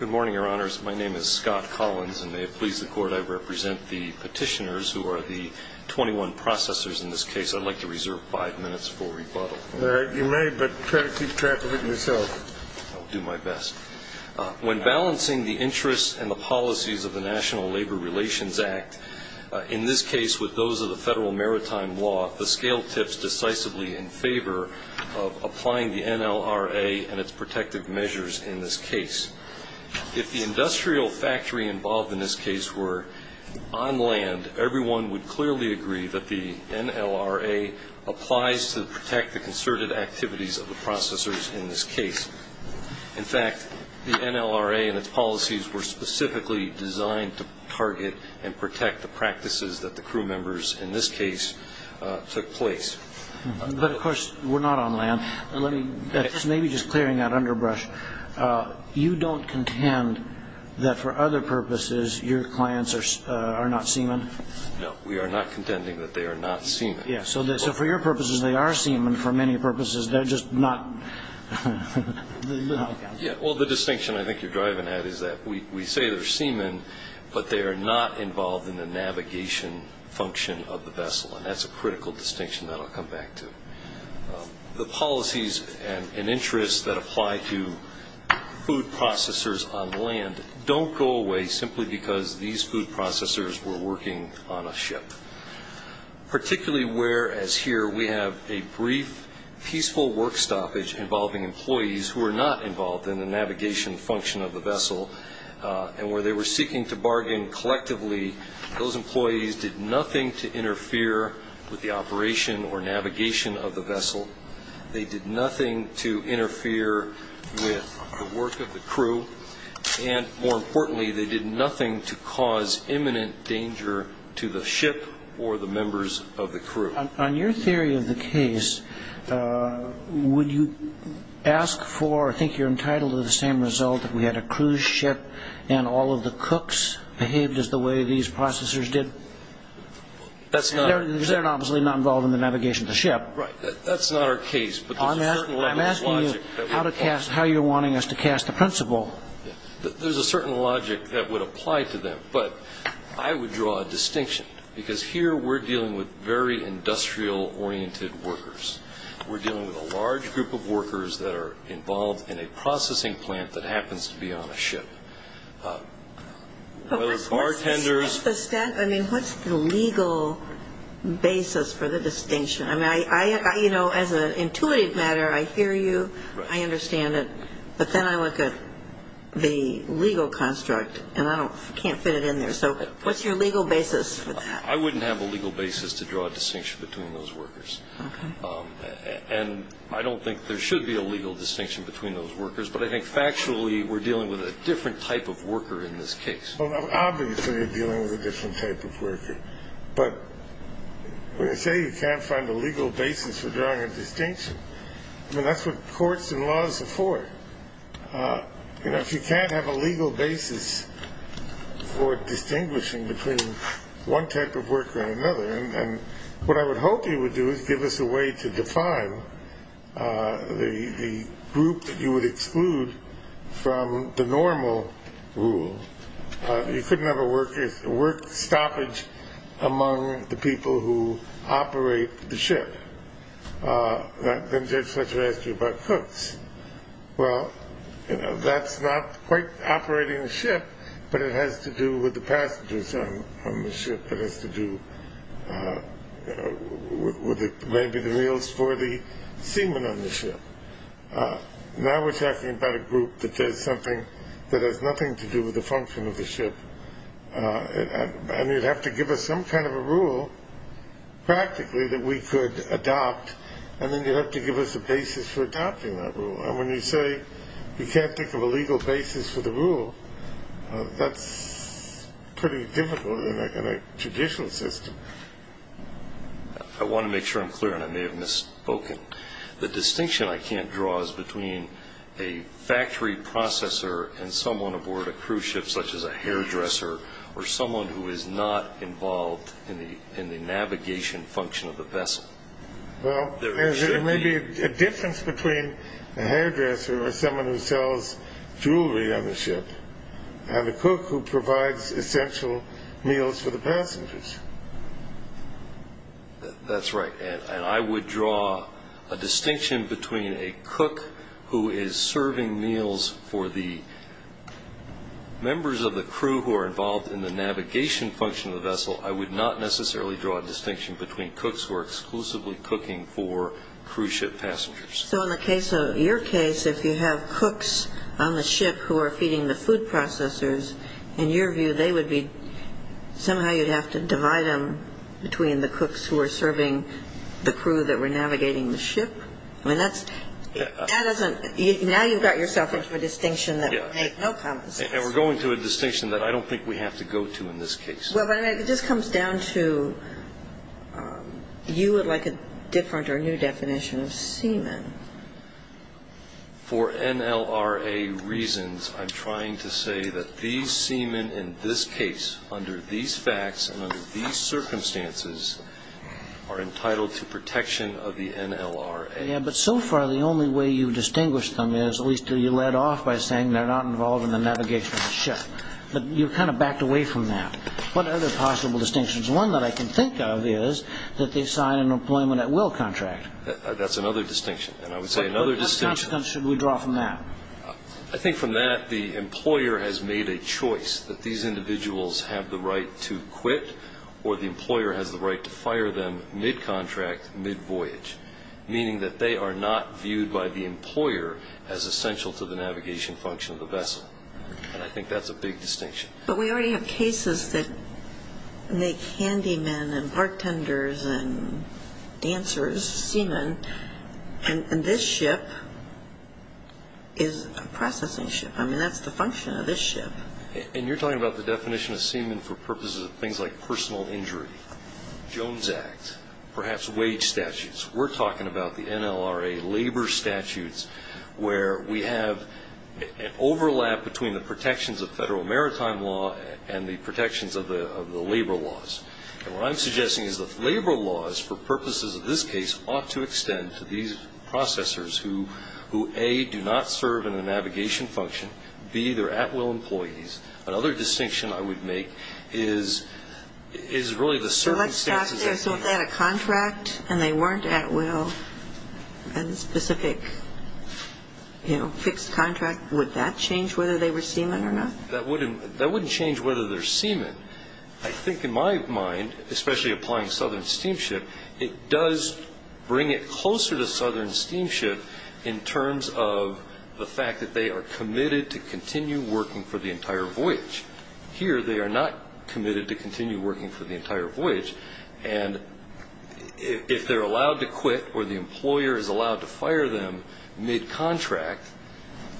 Good morning, Your Honors. My name is Scott Collins, and may it please the Court, I represent the petitioners who are the 21 processors in this case. I'd like to reserve five minutes for rebuttal. You may, but try to keep track of it yourself. I'll do my best. When balancing the interests and the policies of the National Labor Relations Act, in this case with those of the federal maritime law, we brought the scale tips decisively in favor of applying the NLRA and its protective measures in this case. If the industrial factory involved in this case were on land, everyone would clearly agree that the NLRA applies to protect the concerted activities of the processors in this case. In fact, the NLRA and its policies were specifically designed to target and protect the practices that the crew members in this case took place. But, of course, we're not on land. Maybe just clearing that underbrush, you don't contend that for other purposes your clients are not seamen? No, we are not contending that they are not seamen. Yes, so for your purposes, they are seamen. For many purposes, they're just not. Well, the distinction I think you're driving at is that we say they're seamen, but they are not involved in the navigation function of the vessel, and that's a critical distinction that I'll come back to. The policies and interests that apply to food processors on land don't go away simply because these food processors were working on a ship, particularly whereas here we have a brief peaceful work stoppage involving employees who are not involved in the navigation function of the vessel and where they were seeking to bargain collectively. Those employees did nothing to interfere with the operation or navigation of the vessel. They did nothing to interfere with the work of the crew, and more importantly, they did nothing to cause imminent danger to the ship or the members of the crew. On your theory of the case, would you ask for, I think you're entitled to the same result, that we had a cruise ship and all of the cooks behaved as the way these processors did? That's not. Right. That's not our case, but there's a certain level of logic. I'm asking you how you're wanting us to cast a principle. There's a certain logic that would apply to them, but I would draw a distinction, because here we're dealing with very industrial-oriented workers. We're dealing with a large group of workers that are involved in a processing plant that happens to be on a ship, whether bartenders. I mean, what's the legal basis for the distinction? I mean, you know, as an intuitive matter, I hear you, I understand it, but then I look at the legal construct and I can't fit it in there. So what's your legal basis for that? I wouldn't have a legal basis to draw a distinction between those workers, and I don't think there should be a legal distinction between those workers, but I think factually we're dealing with a different type of worker in this case. Well, obviously you're dealing with a different type of worker, but when I say you can't find a legal basis for drawing a distinction, I mean, that's what courts and laws are for. You know, if you can't have a legal basis for distinguishing between one type of worker and another, and what I would hope you would do is give us a way to define the group that you would exclude from the normal rule. You couldn't have a work stoppage among the people who operate the ship. Then Judge Fletcher asked you about cooks. Well, you know, that's not quite operating the ship, but it has to do with the passengers on the ship. It has to do with maybe the meals for the seamen on the ship. Now we're talking about a group that does something that has nothing to do with the function of the ship, and you'd have to give us some kind of a rule practically that we could adopt, and then you'd have to give us a basis for adopting that rule. And when you say you can't think of a legal basis for the rule, that's pretty difficult, other than a judicial system. I want to make sure I'm clear, and I may have misspoken. The distinction I can't draw is between a factory processor and someone aboard a cruise ship such as a hairdresser or someone who is not involved in the navigation function of the vessel. Well, there may be a difference between a hairdresser or someone who sells jewelry on the ship and a cook who provides essential meals for the passengers. That's right, and I would draw a distinction between a cook who is serving meals for the members of the crew who are involved in the navigation function of the vessel. I would not necessarily draw a distinction between cooks who are exclusively cooking for cruise ship passengers. So in your case, if you have cooks on the ship who are feeding the food processors, in your view, somehow you'd have to divide them between the cooks who are serving the crew that were navigating the ship? Now you've got yourself into a distinction that would make no common sense. And we're going to a distinction that I don't think we have to go to in this case. Well, it just comes down to you would like a different or new definition of seaman. For NLRA reasons, I'm trying to say that these seamen in this case, under these facts and under these circumstances, are entitled to protection of the NLRA. Yeah, but so far the only way you've distinguished them is at least you led off by saying they're not involved in the navigation of the ship. But you kind of backed away from that. What other possible distinctions? One that I can think of is that they sign an employment at will contract. That's another distinction, and I would say another distinction. But what consequence should we draw from that? I think from that the employer has made a choice that these individuals have the right to quit or the employer has the right to fire them mid-contract, mid-voyage, meaning that they are not viewed by the employer as essential to the navigation function of the vessel. And I think that's a big distinction. But we already have cases that make handymen and bartenders and dancers seaman, and this ship is a processing ship. I mean, that's the function of this ship. And you're talking about the definition of seaman for purposes of things like personal injury, Jones Act, perhaps wage statutes. We're talking about the NLRA labor statutes where we have an overlap between the protections of federal maritime law and the protections of the labor laws. And what I'm suggesting is that labor laws for purposes of this case ought to extend to these processors who, A, do not serve in a navigation function, B, they're at will employees. Another distinction I would make is really the circumstances. So if they had a contract and they weren't at will, a specific, you know, fixed contract, would that change whether they were seaman or not? That wouldn't change whether they're seaman. I think in my mind, especially applying Southern Steamship, it does bring it closer to Southern Steamship in terms of the fact that they are committed to continue working for the entire voyage. Here, they are not committed to continue working for the entire voyage. And if they're allowed to quit or the employer is allowed to fire them mid-contract,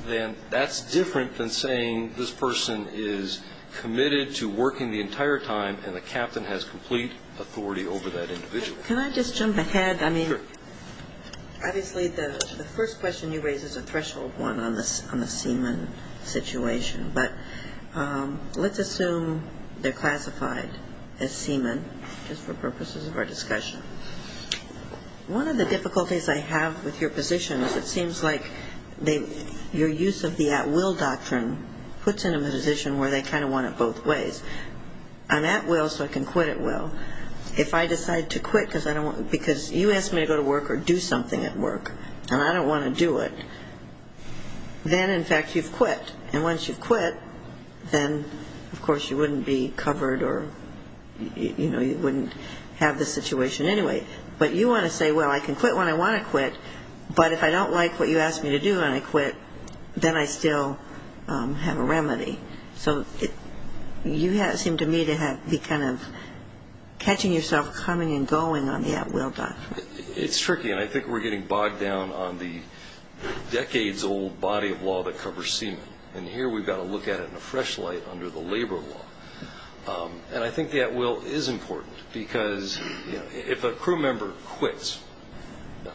then that's different than saying this person is committed to working the entire time and the captain has complete authority over that individual. Can I just jump ahead? Sure. Obviously, the first question you raise is a threshold one on the seaman situation. But let's assume they're classified as seaman just for purposes of our discussion. One of the difficulties I have with your position is it seems like your use of the at will doctrine puts them in a position where they kind of want it both ways. I'm at will so I can quit at will. If I decide to quit because you asked me to go to work or do something at work and I don't want to do it, then, in fact, you've quit. And once you've quit, then, of course, you wouldn't be covered or, you know, you wouldn't have this situation anyway. But you want to say, well, I can quit when I want to quit, but if I don't like what you asked me to do and I quit, then I still have a remedy. So you seem to me to be kind of catching yourself coming and going on the at will doctrine. It's tricky, and I think we're getting bogged down on the decades-old body of law that covers seaman. And here we've got to look at it in a fresh light under the labor law. And I think the at will is important because, you know, if a crew member quits,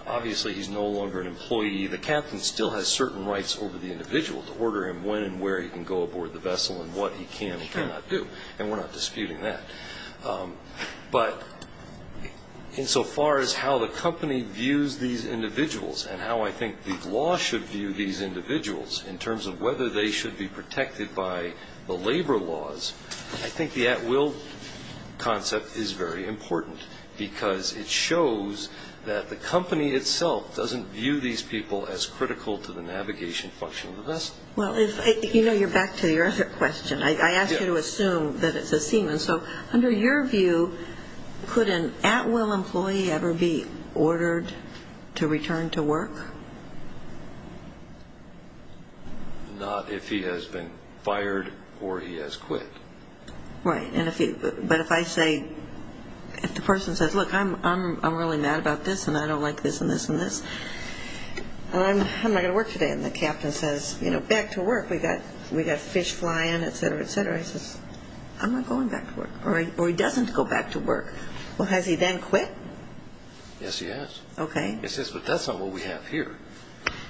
obviously he's no longer an employee. The captain still has certain rights over the individual to order him when and where he can go aboard the vessel and what he can and cannot do, and we're not disputing that. But insofar as how the company views these individuals and how I think the law should view these individuals in terms of whether they should be protected by the labor laws, I think the at will concept is very important because it shows that the company itself doesn't view these people as critical to the navigation function of the vessel. Well, you know, you're back to your other question. I asked you to assume that it's a seaman. So under your view, could an at will employee ever be ordered to return to work? Not if he has been fired or he has quit. Right. But if I say, if the person says, look, I'm really mad about this and I don't like this and this and this, I'm not going to work today. And the captain says, you know, back to work. We've got fish flying, et cetera, et cetera. I'm not going back to work. Or he doesn't go back to work. Well, has he then quit? Yes, he has. Okay. But that's not what we have here.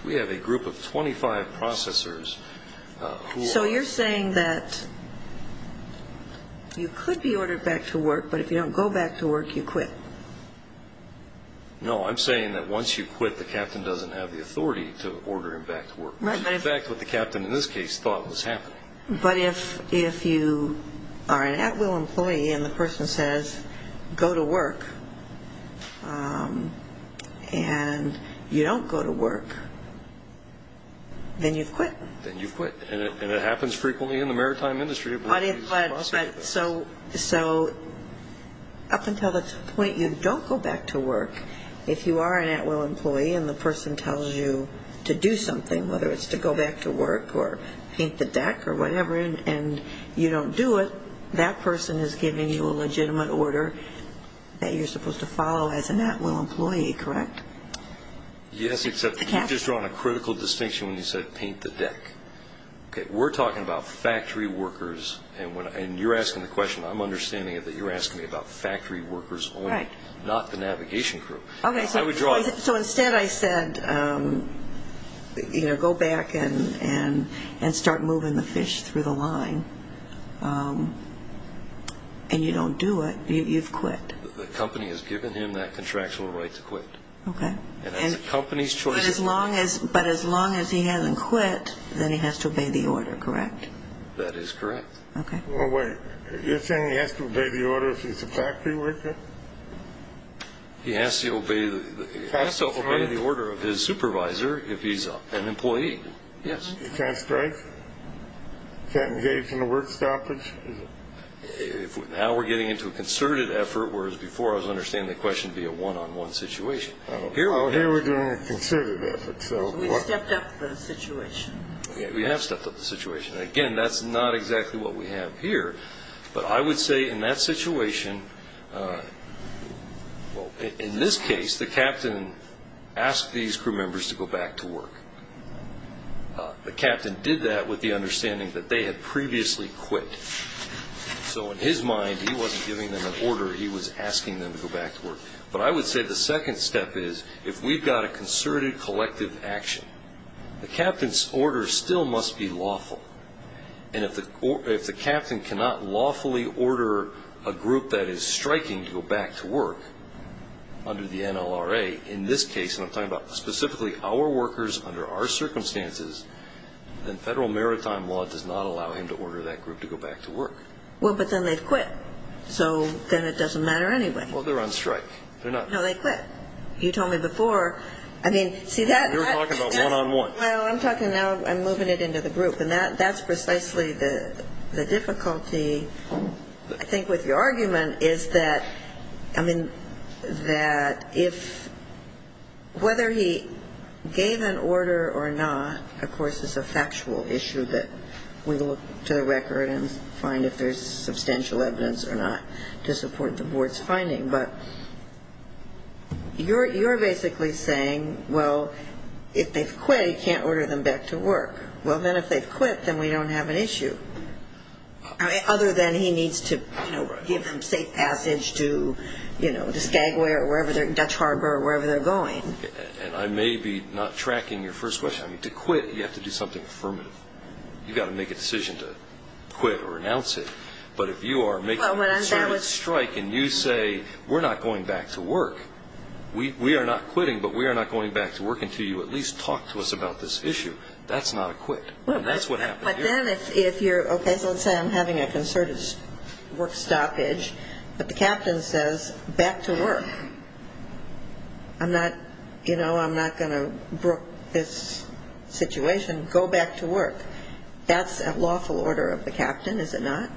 We have a group of 25 processors. So you're saying that you could be ordered back to work, but if you don't go back to work, you quit? No, I'm saying that once you quit, the captain doesn't have the authority to order him back to work. In fact, what the captain in this case thought was happening. But if you are an at-will employee and the person says, go to work, and you don't go to work, then you've quit. Then you've quit. And it happens frequently in the maritime industry. So up until the point you don't go back to work, if you are an at-will employee and the person tells you to do something, whether it's to go back to work or paint the deck or whatever, and you don't do it, that person is giving you a legitimate order that you're supposed to follow as an at-will employee, correct? Yes, except you just drawn a critical distinction when you said paint the deck. We're talking about factory workers, and you're asking the question. I'm understanding that you're asking me about factory workers only, not the navigation crew. Okay, so instead I said, you know, go back and start moving the fish through the line, and you don't do it, you've quit. The company has given him that contractual right to quit. Okay. But as long as he hasn't quit, then he has to obey the order, correct? That is correct. Okay. Wait, you're saying he has to obey the order if he's a factory worker? He has to obey the order of his supervisor if he's an employee, yes. He can't strike? He can't engage in a work stoppage? Now we're getting into a concerted effort, whereas before I was understanding the question to be a one-on-one situation. Here we're doing a concerted effort. So we stepped up the situation. Okay, we have stepped up the situation. Again, that's not exactly what we have here. But I would say in that situation, well, in this case, the captain asked these crew members to go back to work. The captain did that with the understanding that they had previously quit. So in his mind, he wasn't giving them an order, he was asking them to go back to work. But I would say the second step is, if we've got a concerted collective action, the captain's order still must be lawful. And if the captain cannot lawfully order a group that is striking to go back to work under the NLRA, in this case, and I'm talking about specifically our workers under our circumstances, then federal maritime law does not allow him to order that group to go back to work. Well, but then they've quit. So then it doesn't matter anyway. Well, they're on strike. No, they quit. You told me before. You were talking about one-on-one. Well, I'm talking now I'm moving it into the group. And that's precisely the difficulty, I think, with your argument is that, I mean, that if whether he gave an order or not, of course, is a factual issue that we look to the record and find if there's substantial evidence or not to support the board's finding. But you're basically saying, well, if they've quit, he can't order them back to work. Well, then if they've quit, then we don't have an issue, other than he needs to, you know, give them safe passage to, you know, to Skagway or wherever, Dutch Harbor or wherever they're going. And I may be not tracking your first question. I mean, to quit, you have to do something affirmative. You've got to make a decision to quit or renounce it. But if you are making a concerted strike and you say, we're not going back to work, we are not quitting, but we are not going back to work until you at least talk to us about this issue, that's not a quit. And that's what happened here. But then if you're, okay, so let's say I'm having a concerted work stoppage, but the captain says, back to work. I'm not, you know, I'm not going to brook this situation. Go back to work. That's a lawful order of the captain, is it not?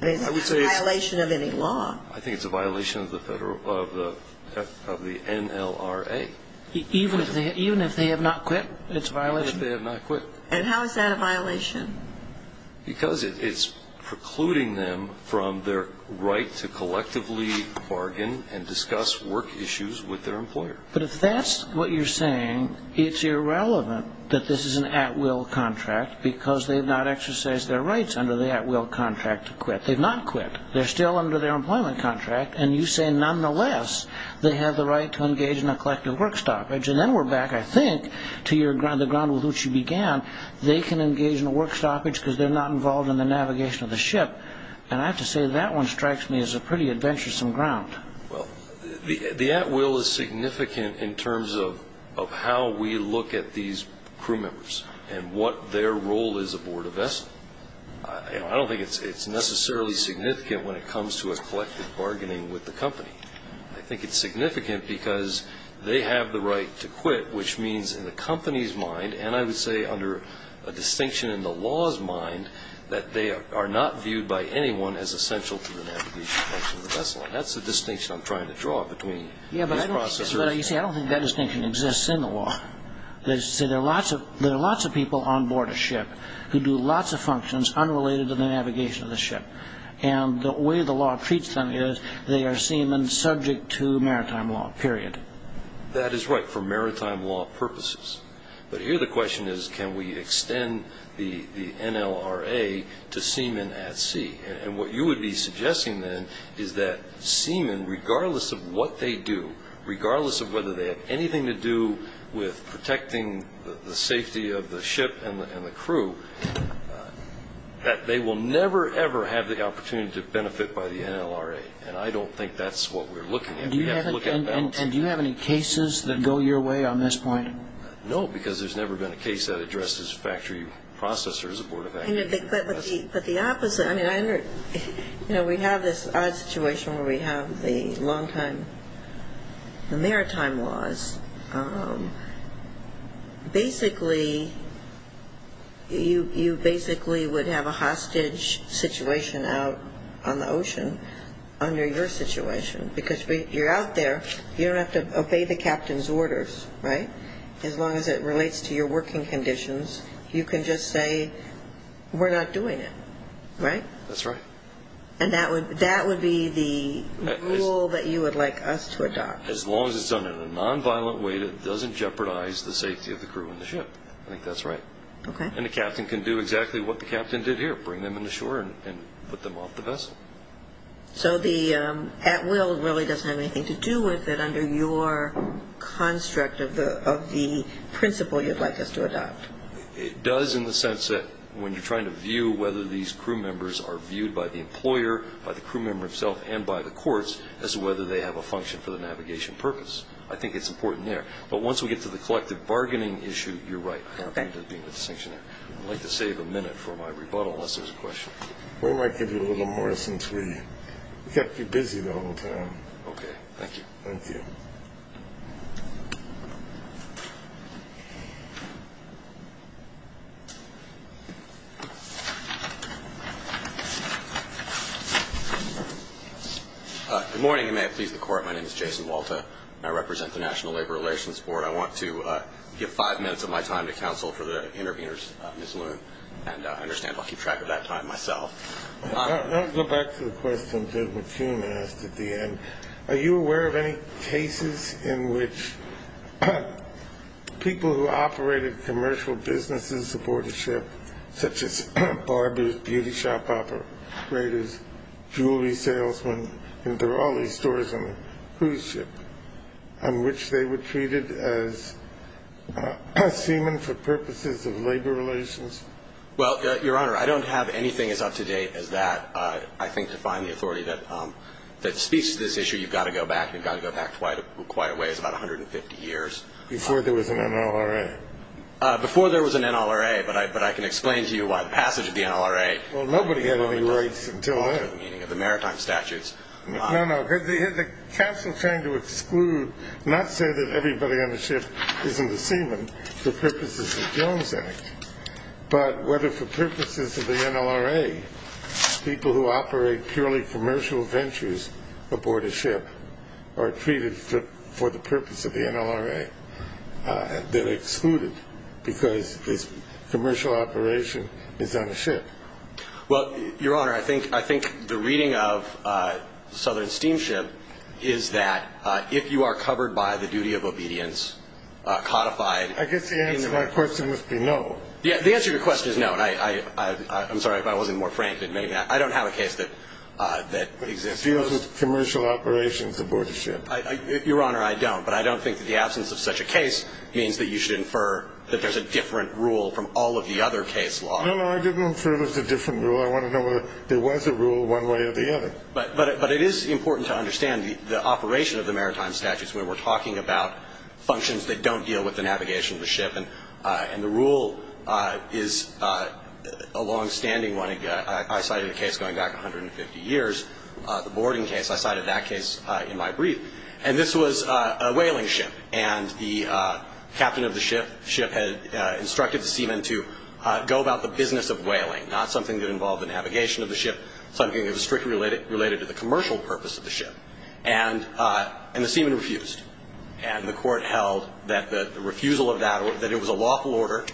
I would say it's a violation of any law. I think it's a violation of the NLRA. Even if they have not quit, it's a violation? Unless they have not quit. And how is that a violation? Because it's precluding them from their right to collectively bargain and discuss work issues with their employer. But if that's what you're saying, it's irrelevant that this is an at-will contract because they've not exercised their rights under the at-will contract to quit. They've not quit. They're still under their employment contract. And you say, nonetheless, they have the right to engage in a collective work stoppage. And then we're back, I think, to the ground with which you began. They can engage in a work stoppage because they're not involved in the navigation of the ship. And I have to say, that one strikes me as a pretty adventuresome ground. Well, the at-will is significant in terms of how we look at these crew members and what their role is aboard a vessel. I don't think it's necessarily significant when it comes to a collective bargaining with the company. I think it's significant because they have the right to quit, which means in the company's mind, and I would say under a distinction in the law's mind, that they are not viewed by anyone as essential to the navigation of the vessel. And that's the distinction I'm trying to draw between this process. Yeah, but you see, I don't think that distinction exists in the law. There are lots of people on board a ship who do lots of functions unrelated to the navigation of the ship. And the way the law treats them is they are seamen subject to maritime law, period. That is right, for maritime law purposes. But here the question is, can we extend the NLRA to seamen at sea? And what you would be suggesting then is that seamen, regardless of what they do, regardless of whether they have anything to do with protecting the safety of the ship and the crew, that they will never, ever have the opportunity to benefit by the NLRA. And I don't think that's what we're looking at. Do you have any cases that go your way on this point? No, because there's never been a case that addresses factory processors aboard a vessel. But the opposite. You know, we have this odd situation where we have the maritime laws. Basically, you basically would have a hostage situation out on the ocean under your situation. Because you're out there, you don't have to obey the captain's orders, right, as long as it relates to your working conditions. You can just say, we're not doing it, right? That's right. And that would be the rule that you would like us to adopt? As long as it's done in a nonviolent way that doesn't jeopardize the safety of the crew and the ship. I think that's right. Okay. And the captain can do exactly what the captain did here, bring them in the shore and put them off the vessel. So the at will really doesn't have anything to do with it under your construct of the principle you'd like us to adopt. It does in the sense that when you're trying to view whether these crew members are viewed by the employer, by the crew member himself, and by the courts, as to whether they have a function for the navigation purpose. I think it's important there. But once we get to the collective bargaining issue, you're right. Okay. I like to save a minute for my rebuttal unless there's a question. We might give you a little more since we kept you busy the whole time. Okay. Thank you. Thank you. Good morning, and may it please the Court. My name is Jason Walta. I represent the National Labor Relations Board. I want to give five minutes of my time to counsel for the interveners, Ms. Loon. And I understand I'll keep track of that time myself. I'll go back to the question Ted McKeon asked at the end. Are you aware of any cases in which people who operated commercial businesses aboard a ship, such as barbers, beauty shop operators, jewelry salesmen, cruise ship, on which they were treated as seamen for purposes of labor relations? Well, Your Honor, I don't have anything as up-to-date as that. I think to find the authority that speaks to this issue, you've got to go back. You've got to go back quite a ways, about 150 years. Before there was an NLRA. Before there was an NLRA, but I can explain to you why the passage of the NLRA. Well, nobody had any rights until then. No, no. The counsel trying to exclude, not say that everybody on the ship isn't a seaman for purposes of Jones Act, but whether for purposes of the NLRA, people who operate purely commercial ventures aboard a ship are treated for the purpose of the NLRA. They're excluded because this commercial operation is on a ship. Well, Your Honor, I think the reading of Southern Steamship is that if you are covered by the duty of obedience, codified. I guess the answer to that question must be no. Yeah, the answer to your question is no. I'm sorry if I wasn't more frank. I don't have a case that exists. It deals with commercial operations aboard a ship. Your Honor, I don't. But I don't think that the absence of such a case means that you should infer that there's a different rule from all of the other case law. No, no. I didn't infer there's a different rule. I want to know whether there was a rule one way or the other. But it is important to understand the operation of the maritime statutes where we're talking about functions that don't deal with the navigation of the ship. And the rule is a longstanding one. I cited a case going back 150 years, the boarding case. I cited that case in my brief. And this was a whaling ship. And the captain of the ship had instructed the seaman to go about the business of whaling, not something that involved the navigation of the ship, something that was strictly related to the commercial purpose of the ship. And the seaman refused. And the court held that the refusal of that, that it was a lawful order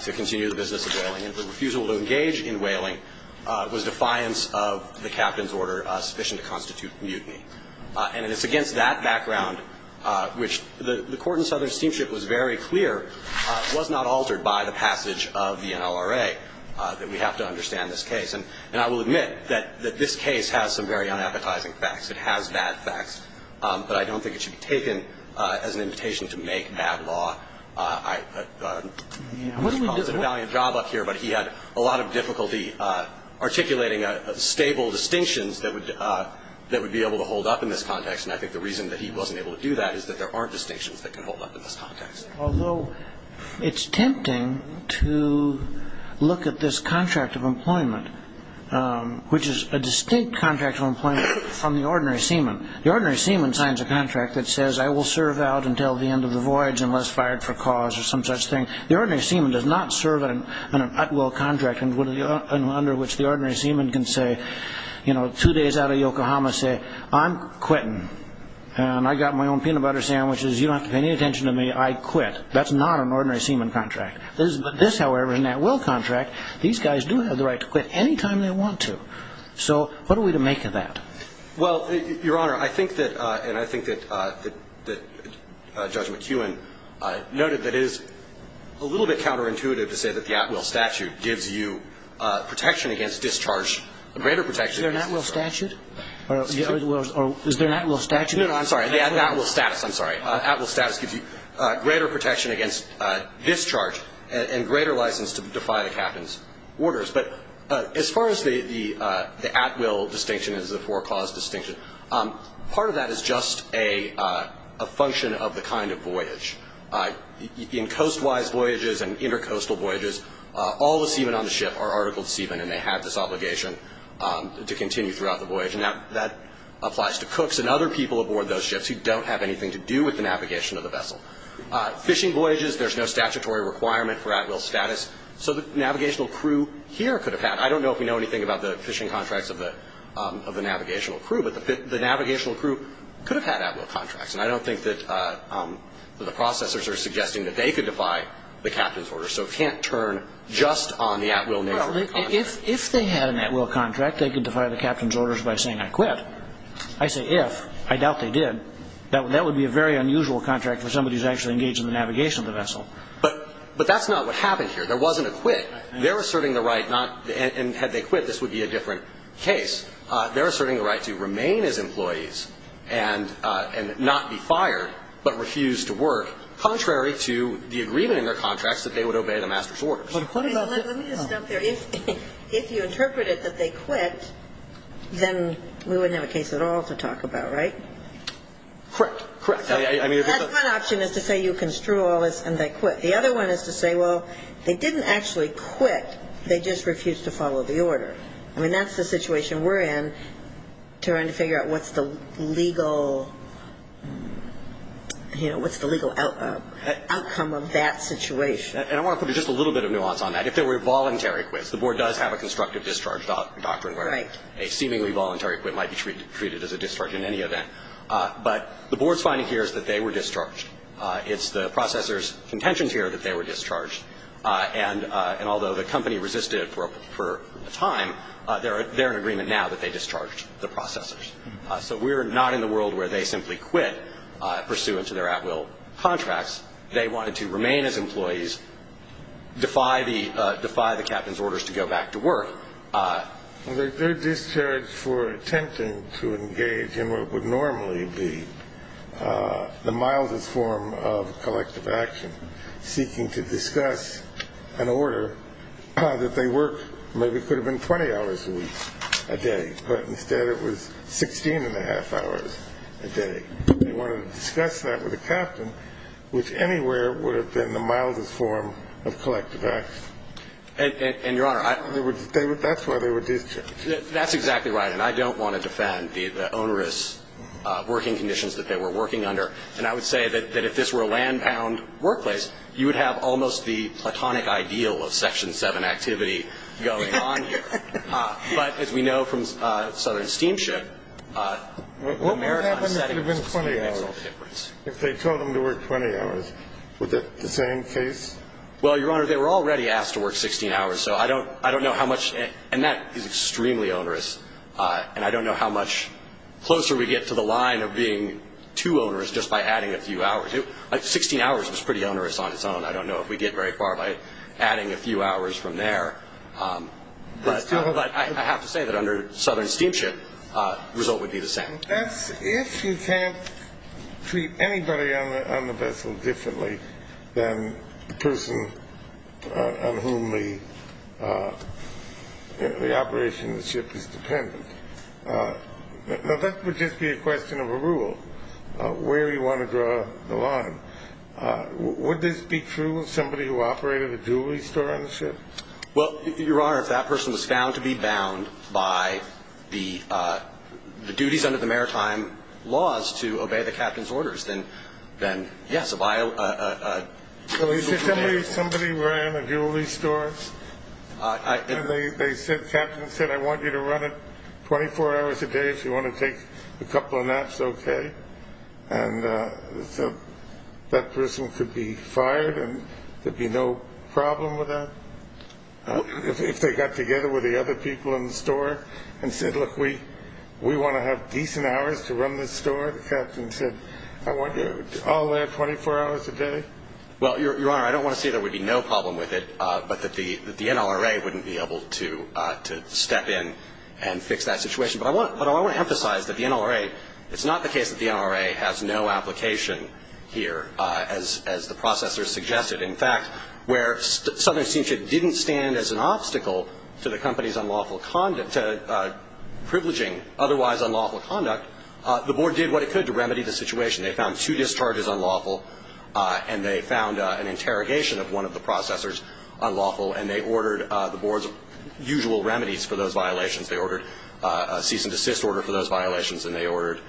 to continue the business of whaling and the refusal to engage in whaling was defiance of the captain's order sufficient to constitute mutiny. And it's against that background which the court in Southern Steamship was very clear was not altered by the passage of the NLRA that we have to understand this case. And I will admit that this case has some very unappetizing facts. It has bad facts. But I don't think it should be taken as an invitation to make bad law. Mr. Palmer did a valiant job up here, but he had a lot of difficulty articulating stable distinctions that would be able to hold up in this context. And I think the reason that he wasn't able to do that is that there aren't distinctions that can hold up in this context. Although it's tempting to look at this contract of employment, which is a distinct contract of employment from the ordinary seaman. The ordinary seaman signs a contract that says, I will serve out until the end of the voyage unless fired for cause or some such thing. The ordinary seaman does not serve in an at-will contract under which the ordinary seaman can say, you know, two days out of Yokohama, say, I'm quitting and I got my own peanut butter sandwiches. You don't have to pay any attention to me. I quit. That's not an ordinary seaman contract. This, however, is an at-will contract. These guys do have the right to quit any time they want to. So what are we to make of that? Well, Your Honor, I think that, and I think that Judge McEwen noted that it is a little bit counterintuitive to say that the at-will statute gives you protection against discharge, greater protection. Is there an at-will statute? Or is there an at-will statute? No, no, I'm sorry. The at-will status, I'm sorry. At-will status gives you greater protection against discharge and greater license to defy the captain's orders. But as far as the at-will distinction as the for-cause distinction, part of that is just a function of the kind of voyage. In coast-wise voyages and inter-coastal voyages, all the seamen on the ship are article seamen and they have this obligation to continue throughout the voyage. Now, that applies to cooks and other people aboard those ships who don't have anything to do with the navigation of the vessel. Fishing voyages, there's no statutory requirement for at-will status. So the navigational crew here could have had, I don't know if we know anything about the fishing contracts of the navigational crew, but the navigational crew could have had at-will contracts. And I don't think that the processors are suggesting that they could defy the captain's orders. So it can't turn just on the at-will nature of the contract. If they had an at-will contract, they could defy the captain's orders by saying, I quit. I say if. I doubt they did. That would be a very unusual contract for somebody who's actually engaged in the navigation of the vessel. But that's not what happened here. There wasn't a quit. They're asserting the right, and had they quit, this would be a different case. They're asserting the right to remain as employees and not be fired, but refuse to work, contrary to the agreement in their contracts that they would obey the master's orders. Let me just stop there. If you interpreted that they quit, then we wouldn't have a case at all to talk about, right? Correct. Correct. One option is to say you construe all this and they quit. The other one is to say, well, they didn't actually quit. They just refused to follow the order. I mean, that's the situation we're in trying to figure out what's the legal outcome of that situation. And I want to put just a little bit of nuance on that. If there were voluntary quits, the board does have a constructive discharge doctrine where a seemingly voluntary quit might be treated as a discharge in any event. But the board's finding here is that they were discharged. It's the processor's contention here that they were discharged. And although the company resisted it for a time, they're in agreement now that they discharged the processors. So we're not in the world where they simply quit pursuant to their at-will contracts. They wanted to remain as employees, defy the captain's orders to go back to work. Their discharge for attempting to engage in what would normally be the mildest form of collective action, seeking to discuss an order that they worked maybe could have been 20 hours a week a day, but instead it was 16-and-a-half hours a day. They wanted to discuss that with the captain, which anywhere would have been the mildest form of collective action. And, Your Honor, I — That's why they were discharged. That's exactly right. And I don't want to defend the onerous working conditions that they were working under. And I would say that if this were a land-bound workplace, you would have almost the platonic ideal of Section 7 activity going on here. But, as we know from Southern Steamship, the American setting makes all the difference. If they told them to work 20 hours, would that be the same case? Well, Your Honor, they were already asked to work 16 hours. So I don't know how much — and that is extremely onerous. And I don't know how much closer we get to the line of being too onerous just by adding a few hours. 16 hours was pretty onerous on its own. I don't know if we get very far by adding a few hours from there. But I have to say that under Southern Steamship, the result would be the same. That's if you can't treat anybody on the vessel differently than the person on whom the operation of the ship is dependent. Now, that would just be a question of a rule, where you want to draw the line. Would this be true of somebody who operated a jewelry store on the ship? Well, Your Honor, if that person was found to be bound by the duties under the maritime laws to obey the captain's orders, then, yes, by a — Somebody ran a jewelry store, and the captain said, I want you to run it 24 hours a day if you want to take a couple of naps, okay? And so that person could be fired, and there'd be no problem with that? If they got together with the other people in the store and said, look, we want to have decent hours to run this store, the captain said, I want you all there 24 hours a day? Well, Your Honor, I don't want to say there would be no problem with it, but that the NLRA wouldn't be able to step in and fix that situation. But I want to emphasize that the NLRA — it's not the case that the NLRA has no application here, as the processors suggested. In fact, where Southern Seamship didn't stand as an obstacle to the company's unlawful conduct — to privileging otherwise unlawful conduct, the board did what it could to remedy the situation. They found two discharges unlawful, and they found an interrogation of one of the processors unlawful, and they ordered the board's usual remedies for those violations. They ordered a cease-and-desist order for those violations, and they ordered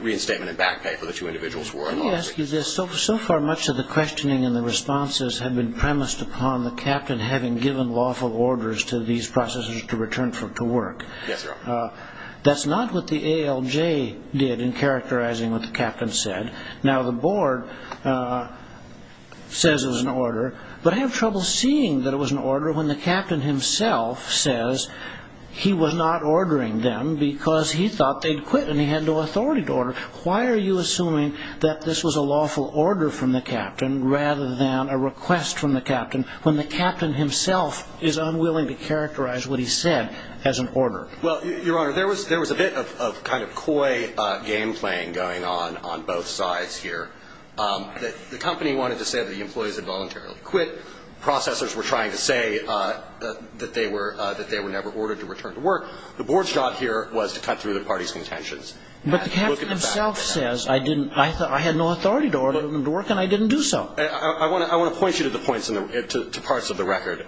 reinstatement and back pay for the two individuals who were unlawfully — Let me ask you this. So far, much of the questioning and the responses have been premised upon the captain having given lawful orders to these processors to return to work. Yes, Your Honor. That's not what the ALJ did in characterizing what the captain said. Now, the board says it was an order, but I have trouble seeing that it was an order when the captain himself says he was not ordering them because he thought they'd quit and he had no authority to order. Why are you assuming that this was a lawful order from the captain rather than a request from the captain when the captain himself is unwilling to characterize what he said as an order? Well, Your Honor, there was a bit of kind of coy game-playing going on on both sides here. The company wanted to say that the employees had voluntarily quit. Processors were trying to say that they were never ordered to return to work. The board's job here was to cut through the parties' contentions. But the captain himself says, I didn't — I had no authority to order them to work, and I didn't do so. I want to point you to the points in the — to parts of the record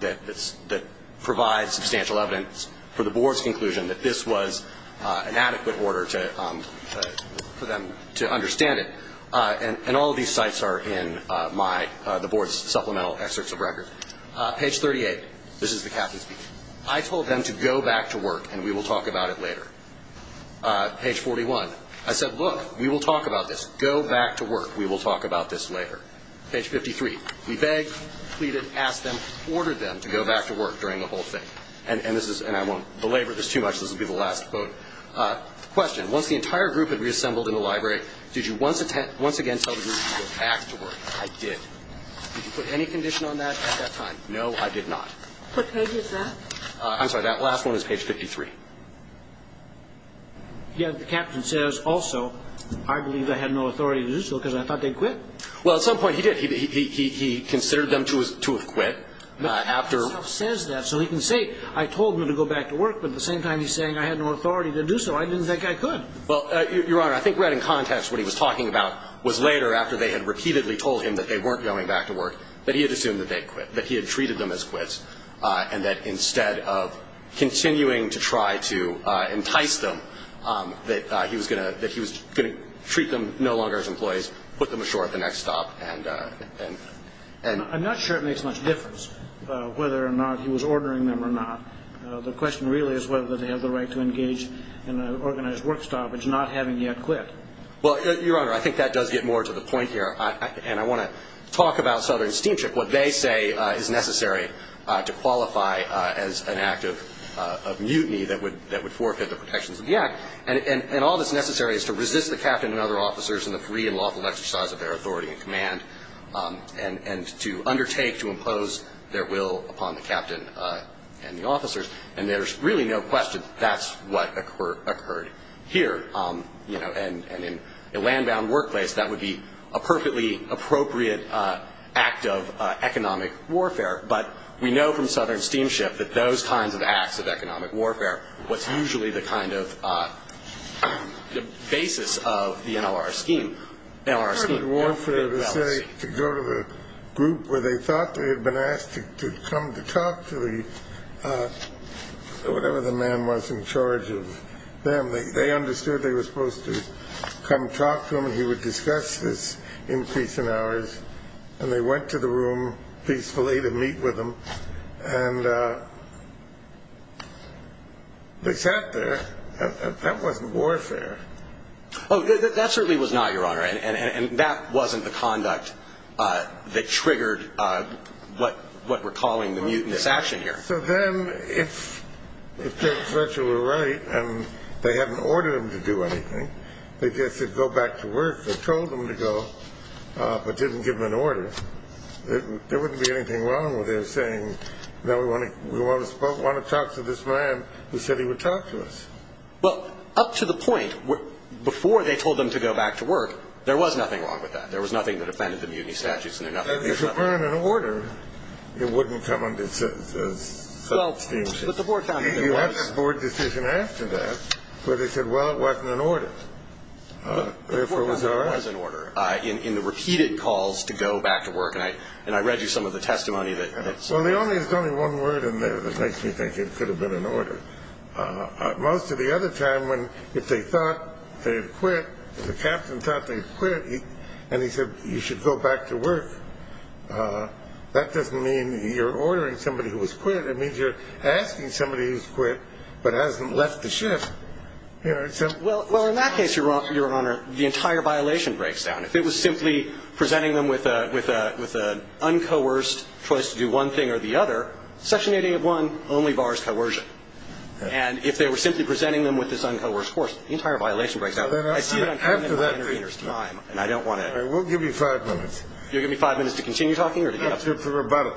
that provide substantial evidence for the board's conclusion that this was an adequate order to — for them to understand it. And all of these sites are in my — the board's supplemental excerpts of record. Page 38. This is the captain speaking. I told them to go back to work, and we will talk about it later. Page 41. I said, look, we will talk about this. Go back to work. We will talk about this later. Page 53. We begged, pleaded, asked them, ordered them to go back to work during the whole thing. And this is — and I won't belabor this too much. This will be the last quote. Question. Once the entire group had reassembled in the library, did you once again tell the group to go back to work? I did. Did you put any condition on that at that time? No, I did not. What page is that? I'm sorry. That last one is page 53. Yeah, the captain says, also, I believe I had no authority to do so because I thought they'd quit. Well, at some point he did. He considered them to have quit. He says that so he can say, I told them to go back to work, but at the same time he's saying I had no authority to do so. I didn't think I could. Well, Your Honor, I think right in context what he was talking about was later, after they had repeatedly told him that they weren't going back to work, that he had assumed that they'd quit, that he had treated them as quits, and that instead of continuing to try to entice them, that he was going to treat them no longer as employees, put them ashore at the next stop. I'm not sure it makes much difference whether or not he was ordering them or not. The question really is whether they have the right to engage in an organized work stoppage, not having yet quit. Well, Your Honor, I think that does get more to the point here, and I want to talk about Southern Steamship, what they say is necessary to qualify as an act of mutiny that would forfeit the protections of the act. And all that's necessary is to resist the captain and other officers and the free and lawful exercise of their authority and command, and to undertake to impose their will upon the captain and the officers. And there's really no question that's what occurred here. And in a land-bound workplace, that would be a perfectly appropriate act of economic warfare. But we know from Southern Steamship that those kinds of acts of economic warfare, what's usually the kind of basis of the NLR scheme, NLR scheme, to go to the group where they thought they had been asked to come to talk to the, whatever the man was in charge of them. They understood they were supposed to come talk to him, and he would discuss this in peace and hours. And they went to the room peacefully to meet with him. And they sat there. That wasn't warfare. Oh, that certainly was not, Your Honor. And that wasn't the conduct that triggered what we're calling the mutinous action here. So then if Judge Fletcher were right and they hadn't ordered him to do anything, they just said go back to work. They told him to go but didn't give him an order. There wouldn't be anything wrong with him saying, no, we want to talk to this man who said he would talk to us. Well, up to the point before they told him to go back to work, there was nothing wrong with that. There was nothing that offended the mutiny statutes. And if you burn an order, it wouldn't come under Southern Steamship. Well, but the board found that there was. You had the board decision after that where they said, well, it wasn't an order. The board found there was an order in the repeated calls to go back to work. And I read you some of the testimony. Well, there's only one word in there that makes me think it could have been an order. Most of the other time when if they thought they had quit, if the captain thought they had quit and he said you should go back to work, that doesn't mean you're ordering somebody who has quit. It means you're asking somebody who's quit but hasn't left the ship. Well, in that case, Your Honor, the entire violation breaks down. If it was simply presenting them with an uncoerced choice to do one thing or the other, Section 881 only bars coercion. And if they were simply presenting them with this uncoerced course, the entire violation breaks down. I see that I'm cutting my intervener's time, and I don't want to. We'll give you five minutes. You'll give me five minutes to continue talking or to get up? To rebut it.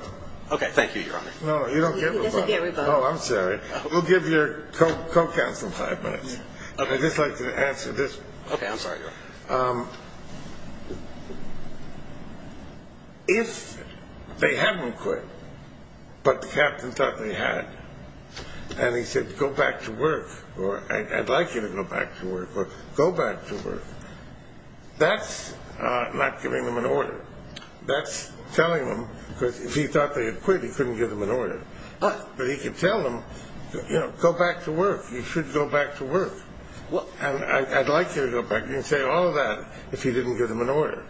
Okay, thank you, Your Honor. No, you don't get rebut. He doesn't get rebut. Oh, I'm sorry. We'll give your co-counsel five minutes. Okay. I'd just like to answer this. Okay, I'm sorry, Your Honor. If they hadn't quit but the captain thought they had and he said go back to work or I'd like you to go back to work or go back to work, that's not giving them an order. That's telling them because if he thought they had quit, he couldn't give them an order. But he could tell them, you know, go back to work. You should go back to work. And I'd like you to go back. You can say all of that if you didn't give them an order.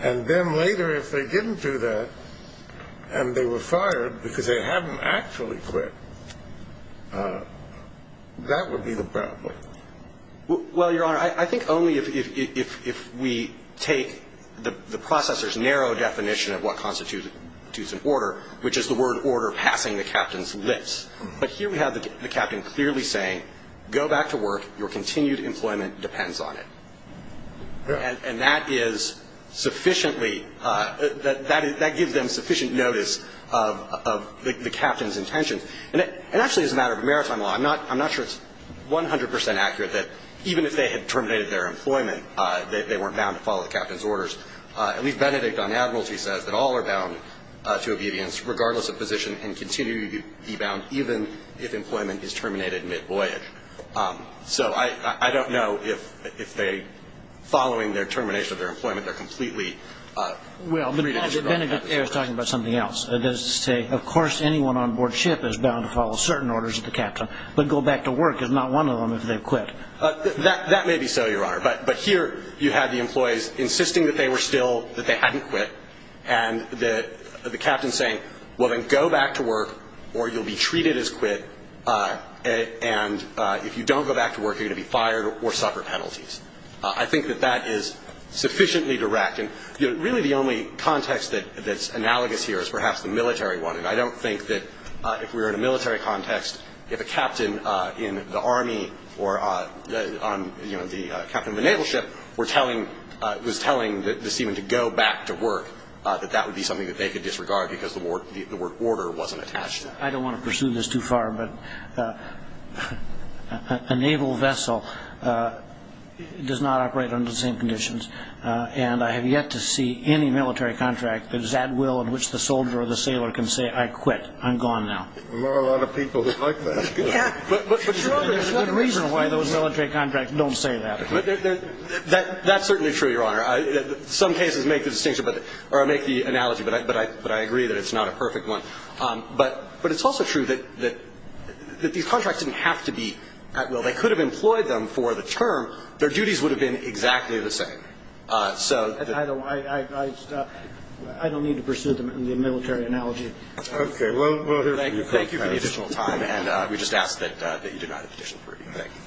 And then later if they didn't do that and they were fired because they hadn't actually quit, that would be the problem. Well, Your Honor, I think only if we take the processor's narrow definition of what constitutes an order, which is the word order passing the captain's lips. But here we have the captain clearly saying go back to work. Your continued employment depends on it. And that is sufficiently that gives them sufficient notice of the captain's intentions. And actually as a matter of maritime law, I'm not sure it's 100% accurate that even if they had terminated their employment, they weren't bound to follow the captain's orders. At least Benedict on Admiralty says that all are bound to obedience regardless of position and continue to be bound even if employment is terminated mid-voyage. So I don't know if they, following their termination of their employment, they're completely free to do so. Well, but Benedict there is talking about something else. It does say, of course, anyone on board ship is bound to follow certain orders of the captain. But go back to work is not one of them if they quit. That may be so, Your Honor. But here you have the employees insisting that they were still, that they hadn't quit, and the captain saying, well, then go back to work or you'll be treated as quit. And if you don't go back to work, you're going to be fired or suffer penalties. I think that that is sufficiently direct. And really the only context that's analogous here is perhaps the military one. I don't think that if we were in a military context, if a captain in the Army or on the captain of a naval ship was telling the seaman to go back to work, that that would be something that they could disregard because the word order wasn't attached to it. I don't want to pursue this too far, but a naval vessel does not operate under the same conditions. And I have yet to see any military contract that is at will in which the soldier or the sailor can say, I quit, I'm gone now. There are a lot of people who like that. But, Your Honor, there's no reason why those military contracts don't say that. That's certainly true, Your Honor. Some cases make the distinction or make the analogy, but I agree that it's not a perfect one. But it's also true that these contracts didn't have to be at will. They could have employed them for the term. Their duties would have been exactly the same. I don't need to pursue them in the military analogy. Okay. Well, thank you for the additional time, and we just ask that you deny the petition. Thank you.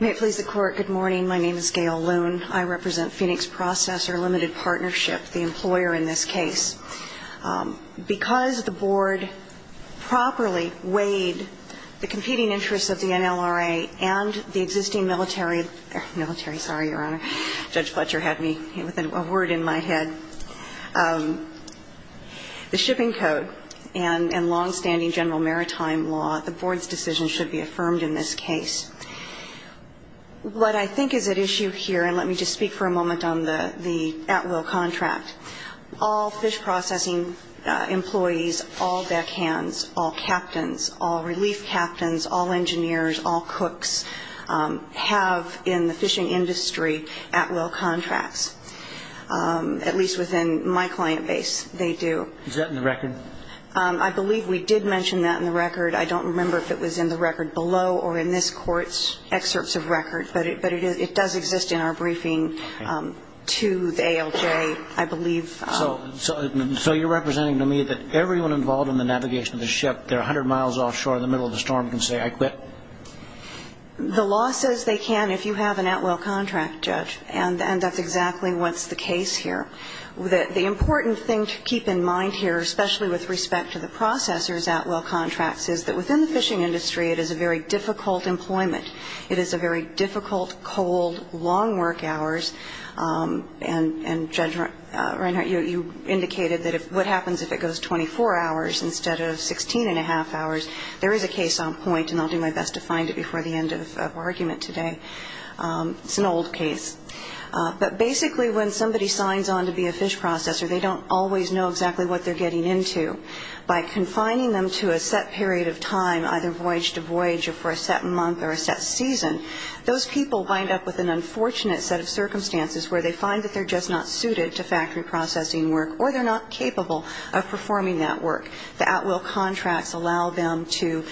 May it please the Court, good morning. My name is Gail Loon. I represent Phoenix Processor Limited Partnership, the employer in this case. Because the Board properly weighed the competing interests of the NLRA and the existing military – military, sorry, Your Honor. Judge Fletcher had me with a word in my head. The shipping code and longstanding general maritime law, the Board's decision should be affirmed in this case. What I think is at issue here, and let me just speak for a moment on the at-will contract, all fish processing employees, all deckhands, all captains, all relief captains, all engineers, all cooks have in the fishing industry at-will contracts, at least within my client base, they do. Is that in the record? I believe we did mention that in the record. I don't remember if it was in the record below or in this Court's excerpts of record. But it does exist in our briefing to the ALJ. I believe – So you're representing to me that everyone involved in the navigation of the ship, they're 100 miles offshore in the middle of the storm, can say, I quit? The law says they can if you have an at-will contract, Judge, and that's exactly what's the case here. The important thing to keep in mind here, especially with respect to the processors' at-will contracts, is that within the fishing industry it is a very difficult employment. It is a very difficult, cold, long work hours. And, Judge Reinhart, you indicated that what happens if it goes 24 hours instead of 16-and-a-half hours? There is a case on point, and I'll do my best to find it before the end of our argument today. It's an old case. But basically when somebody signs on to be a fish processor, they don't always know exactly what they're getting into. By confining them to a set period of time, either voyage to voyage or for a set month or a set season, those people wind up with an unfortunate set of circumstances where they find that they're just not suited to factory processing work or they're not capable of performing that work. The at-will contracts allow them to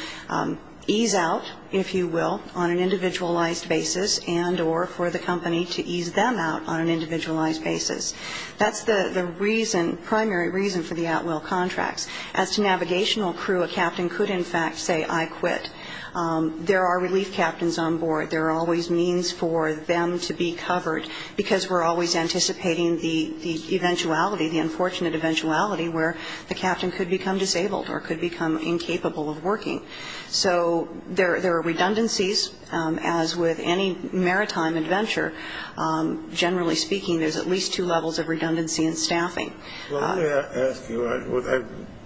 ease out, if you will, on an individualized basis and or for the company to ease them out on an individualized basis. That's the reason, primary reason for the at-will contracts. As to navigational crew, a captain could in fact say, I quit. There are relief captains on board. There are always means for them to be covered because we're always anticipating the eventuality, the unfortunate eventuality, where the captain could become disabled or could become incapable of working. So there are redundancies, as with any maritime adventure. Generally speaking, there's at least two levels of redundancy in staffing. Well, let me ask you,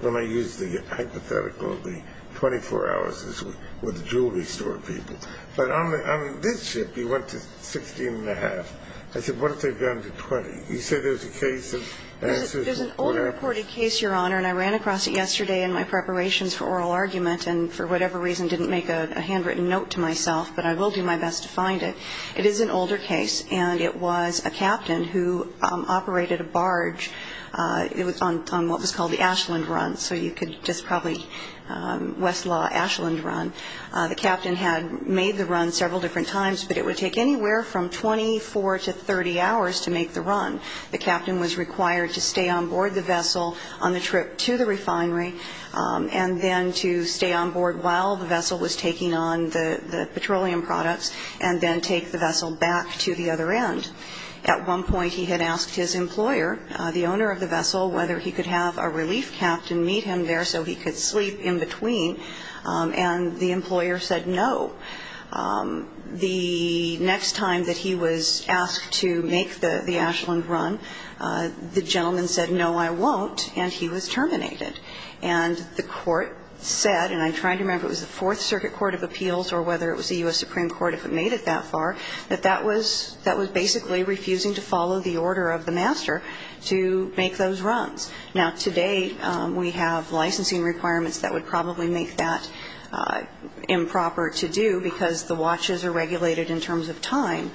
when I use the hypothetical of the 24 hours with the jewelry store people, but on this ship, you went to 16 and a half. I said, what if they've gone to 20? You say there's a case of assistance. There's an older reported case, Your Honor, and I ran across it yesterday in my preparations for oral argument and for whatever reason didn't make a handwritten note to myself, but I will do my best to find it. It is an older case, and it was a captain who operated a barge. It was on what was called the Ashland Run, so you could just probably, Westlaw, Ashland Run. The captain had made the run several different times, but it would take anywhere from 24 to 30 hours to make the run. The captain was required to stay on board the vessel on the trip to the refinery and then to stay on board while the vessel was taking on the petroleum products and then take the vessel back to the other end. At one point, he had asked his employer, the owner of the vessel, whether he could have a relief captain meet him there so he could sleep in between, and the employer said no. The next time that he was asked to make the Ashland Run, the gentleman said, no, I won't, and he was terminated. And the court said, and I'm trying to remember if it was the Fourth Circuit Court of Appeals or whether it was the U.S. Supreme Court if it made it that far, that that was basically refusing to follow the order of the master to make those runs. Now, today we have licensing requirements that would probably make that improper to do because the watches are regulated in terms of time,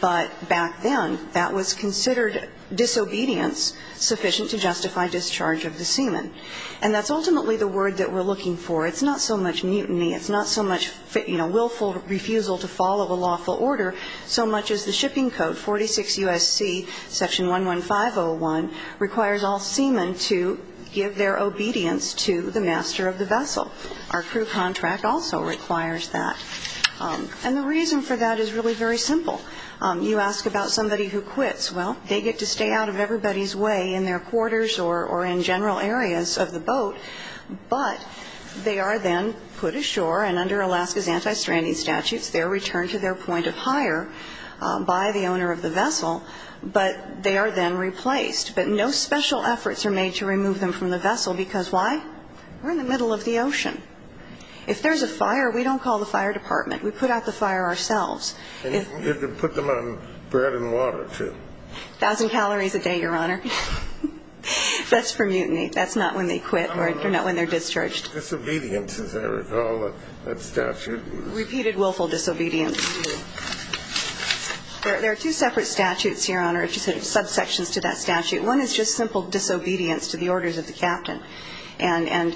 but back then that was considered disobedience sufficient to justify discharge of the seaman. And that's ultimately the word that we're looking for. It's not so much mutiny, it's not so much willful refusal to follow a lawful order so much as the shipping code, 46 U.S.C., Section 115.01, requires all seamen to give their obedience to the master of the vessel. Our crew contract also requires that. And the reason for that is really very simple. You ask about somebody who quits. Well, they get to stay out of everybody's way in their quarters or in general areas of the boat, but they are then put ashore, and under Alaska's anti-stranding statutes, they're returned to their point of hire by the owner of the vessel, but they are then replaced. But no special efforts are made to remove them from the vessel because why? We're in the middle of the ocean. If there's a fire, we don't call the fire department. We put out the fire ourselves. And you have to put them on bread and water, too. A thousand calories a day, Your Honor. That's for mutiny. That's not when they quit or not when they're discharged. Disobedience, as I recall, that statute. Repeated willful disobedience. There are two separate statutes here, Your Honor, subsections to that statute. One is just simple disobedience to the orders of the captain. And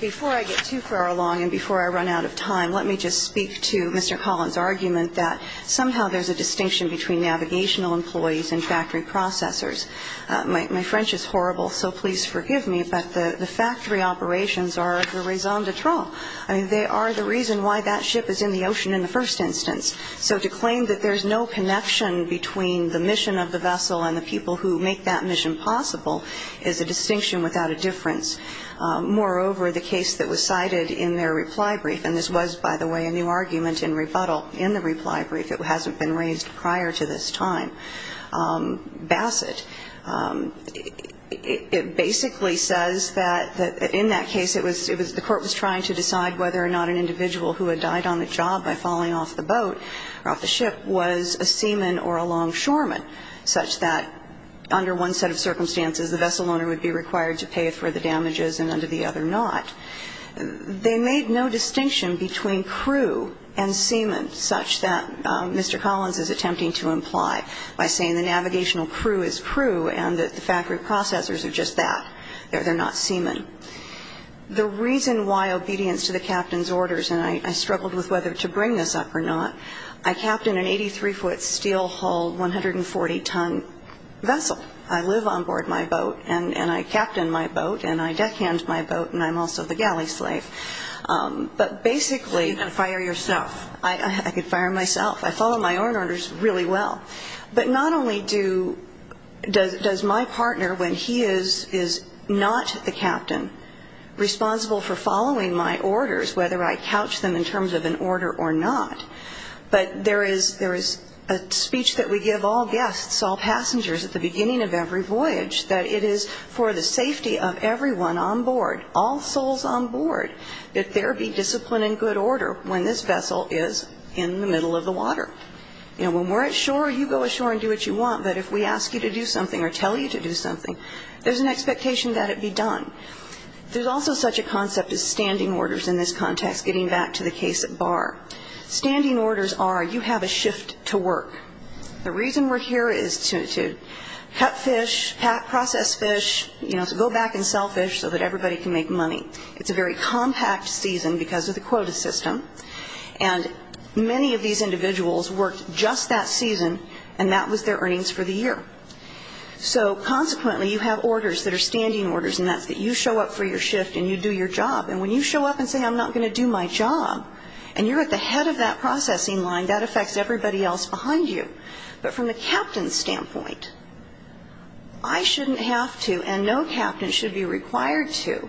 before I get too far along and before I run out of time, let me just speak to Mr. Collins' argument that somehow there's a distinction between navigational employees and factory processors. My French is horrible, so please forgive me. But the factory operations are the raison d'etre. I mean, they are the reason why that ship is in the ocean in the first instance. So to claim that there's no connection between the mission of the vessel and the people who make that mission possible is a distinction without a difference. Moreover, the case that was cited in their reply brief, and this was, by the way, a new argument in rebuttal in the reply brief. It hasn't been raised prior to this time. Bassett, it basically says that in that case it was the court was trying to decide whether or not an individual who had died on the job by falling off the boat or off the ship was a seaman or a longshoreman, such that under one set of circumstances the vessel owner would be required to pay for the damages and under the other not. They made no distinction between crew and seaman, such that Mr. Collins is attempting to imply. By saying the navigational crew is crew and that the factory processors are just that. They're not seaman. The reason why obedience to the captain's orders, and I struggled with whether to bring this up or not, I captained an 83-foot steel-hulled 140-ton vessel. I live on board my boat, and I captain my boat, and I deckhand my boat, and I'm also the galley slave. But basically you can fire yourself. I could fire myself. I follow my own orders really well. But not only does my partner, when he is not the captain, responsible for following my orders, whether I couch them in terms of an order or not, but there is a speech that we give all guests, all passengers at the beginning of every voyage, that it is for the safety of everyone on board, all souls on board, that there be discipline and good order when this vessel is in the middle of the water. You know, when we're at shore, you go ashore and do what you want. But if we ask you to do something or tell you to do something, there's an expectation that it be done. There's also such a concept as standing orders in this context, getting back to the case at Barr. Standing orders are you have a shift to work. The reason we're here is to cut fish, process fish, you know, to go back and sell fish so that everybody can make money. It's a very compact season because of the quota system. And many of these individuals worked just that season, and that was their earnings for the year. So consequently, you have orders that are standing orders, and that's that you show up for your shift and you do your job. And when you show up and say, I'm not going to do my job, and you're at the head of that processing line, that affects everybody else behind you. But from the captain's standpoint, I shouldn't have to, and no captain should be required to,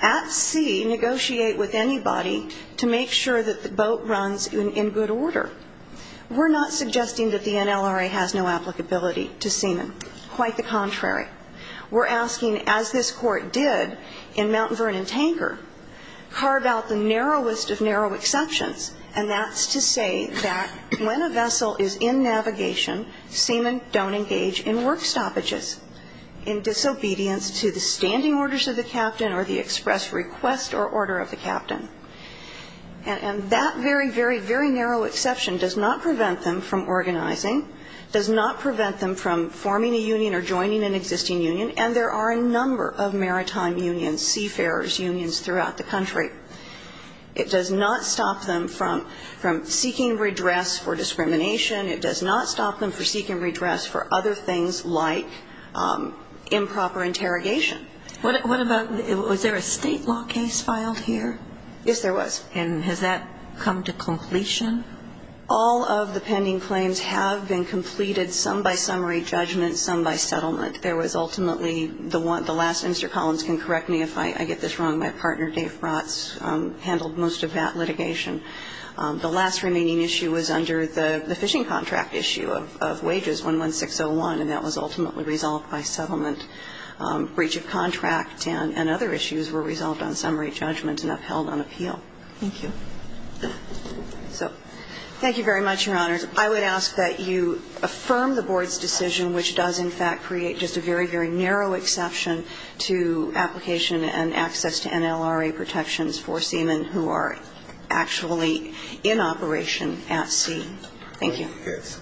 at sea, negotiate with anybody to make sure that the boat runs in good order. We're not suggesting that the NLRA has no applicability to seamen. Quite the contrary. We're asking, as this court did in Mount Vernon Tanker, carve out the narrowest of narrow exceptions, and that's to say that when a vessel is in navigation, seamen don't engage in work stoppages, in disobedience to the standing orders of the captain or the express request or order of the captain. And that very, very, very narrow exception does not prevent them from organizing, does not prevent them from forming a union or joining an existing union, and there are a number of maritime unions, seafarers unions throughout the country. It does not stop them from seeking redress for discrimination. It does not stop them from seeking redress for other things like improper interrogation. What about, was there a State law case filed here? Yes, there was. And has that come to completion? All of the pending claims have been completed, some by summary judgment, some by settlement. There was ultimately the one, the last, Mr. Collins can correct me if I get this wrong, my partner Dave Rotz handled most of that litigation. The last remaining issue was under the fishing contract issue of wages, 11601, and that was ultimately resolved by settlement. Breach of contract and other issues were resolved on summary judgment and upheld on appeal. Thank you. So thank you very much, Your Honors. I would ask that you affirm the Board's decision, which does in fact create just a very, very narrow exception to application and access to NLRA protections for seamen who are actually in operation at sea. Thank you. Yes.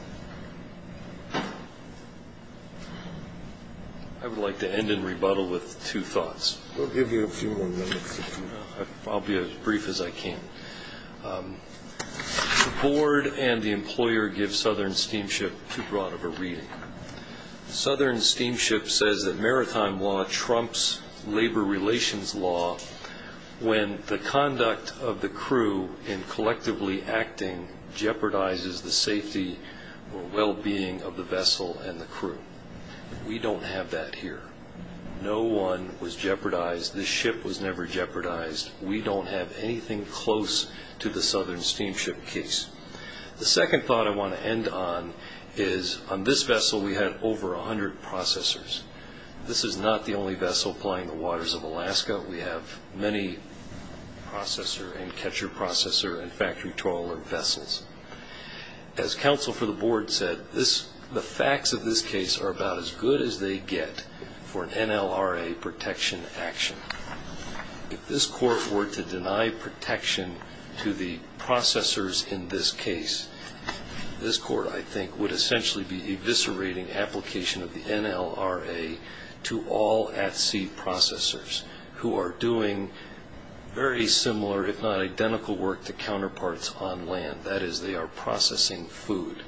I would like to end in rebuttal with two thoughts. We'll give you a few more minutes. I'll be as brief as I can. The Board and the employer give Southern Steamship too broad of a reading. Southern Steamship says that maritime law trumps labor relations law when the conduct of the crew in collectively acting jeopardizes the safety or well-being of the vessel and the crew. We don't have that here. No one was jeopardized. This ship was never jeopardized. We don't have anything close to the Southern Steamship case. The second thought I want to end on is on this vessel we had over 100 processors. This is not the only vessel flying the waters of Alaska. We have many processor and catcher processor and factory trawler vessels. As counsel for the Board said, the facts of this case are about as good as they get for an NLRA protection action. If this court were to deny protection to the processors in this case, this court, I think, would essentially be eviscerating application of the NLRA to all at-sea processors who are doing very similar, if not identical work, to counterparts on land. That is, they are processing food.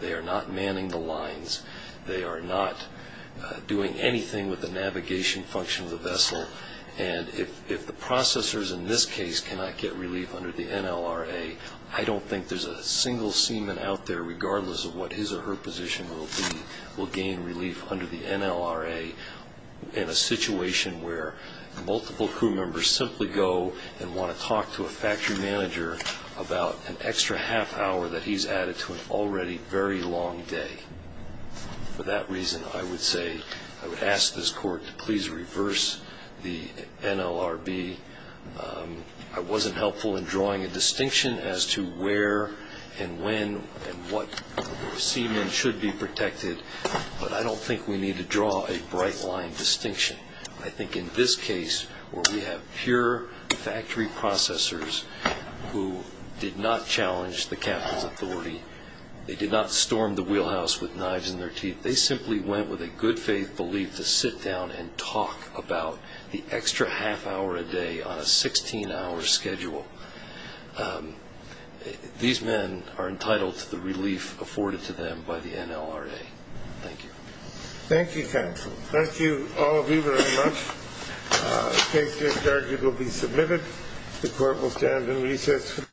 They are not manning the lines. They are not doing anything with the navigation function of the vessel. And if the processors in this case cannot get relief under the NLRA, I don't think there's a single seaman out there, regardless of what his or her position will be, will gain relief under the NLRA in a situation where multiple crew members simply go and want to talk to a factory manager about an extra half hour that he's added to an already very long day. For that reason, I would say I would ask this court to please reverse the NLRB. I wasn't helpful in drawing a distinction as to where and when and what seamen should be protected, but I don't think we need to draw a bright-line distinction. I think in this case where we have pure factory processors who did not challenge the captain's authority, they did not storm the wheelhouse with knives in their teeth, they simply went with a good-faith belief to sit down and talk about the extra half hour a day on a 16-hour schedule. These men are entitled to the relief afforded to them by the NLRA. Thank you. Thank you, counsel. Thank you, all of you, very much. The case discharge will be submitted. The court will stand in recess.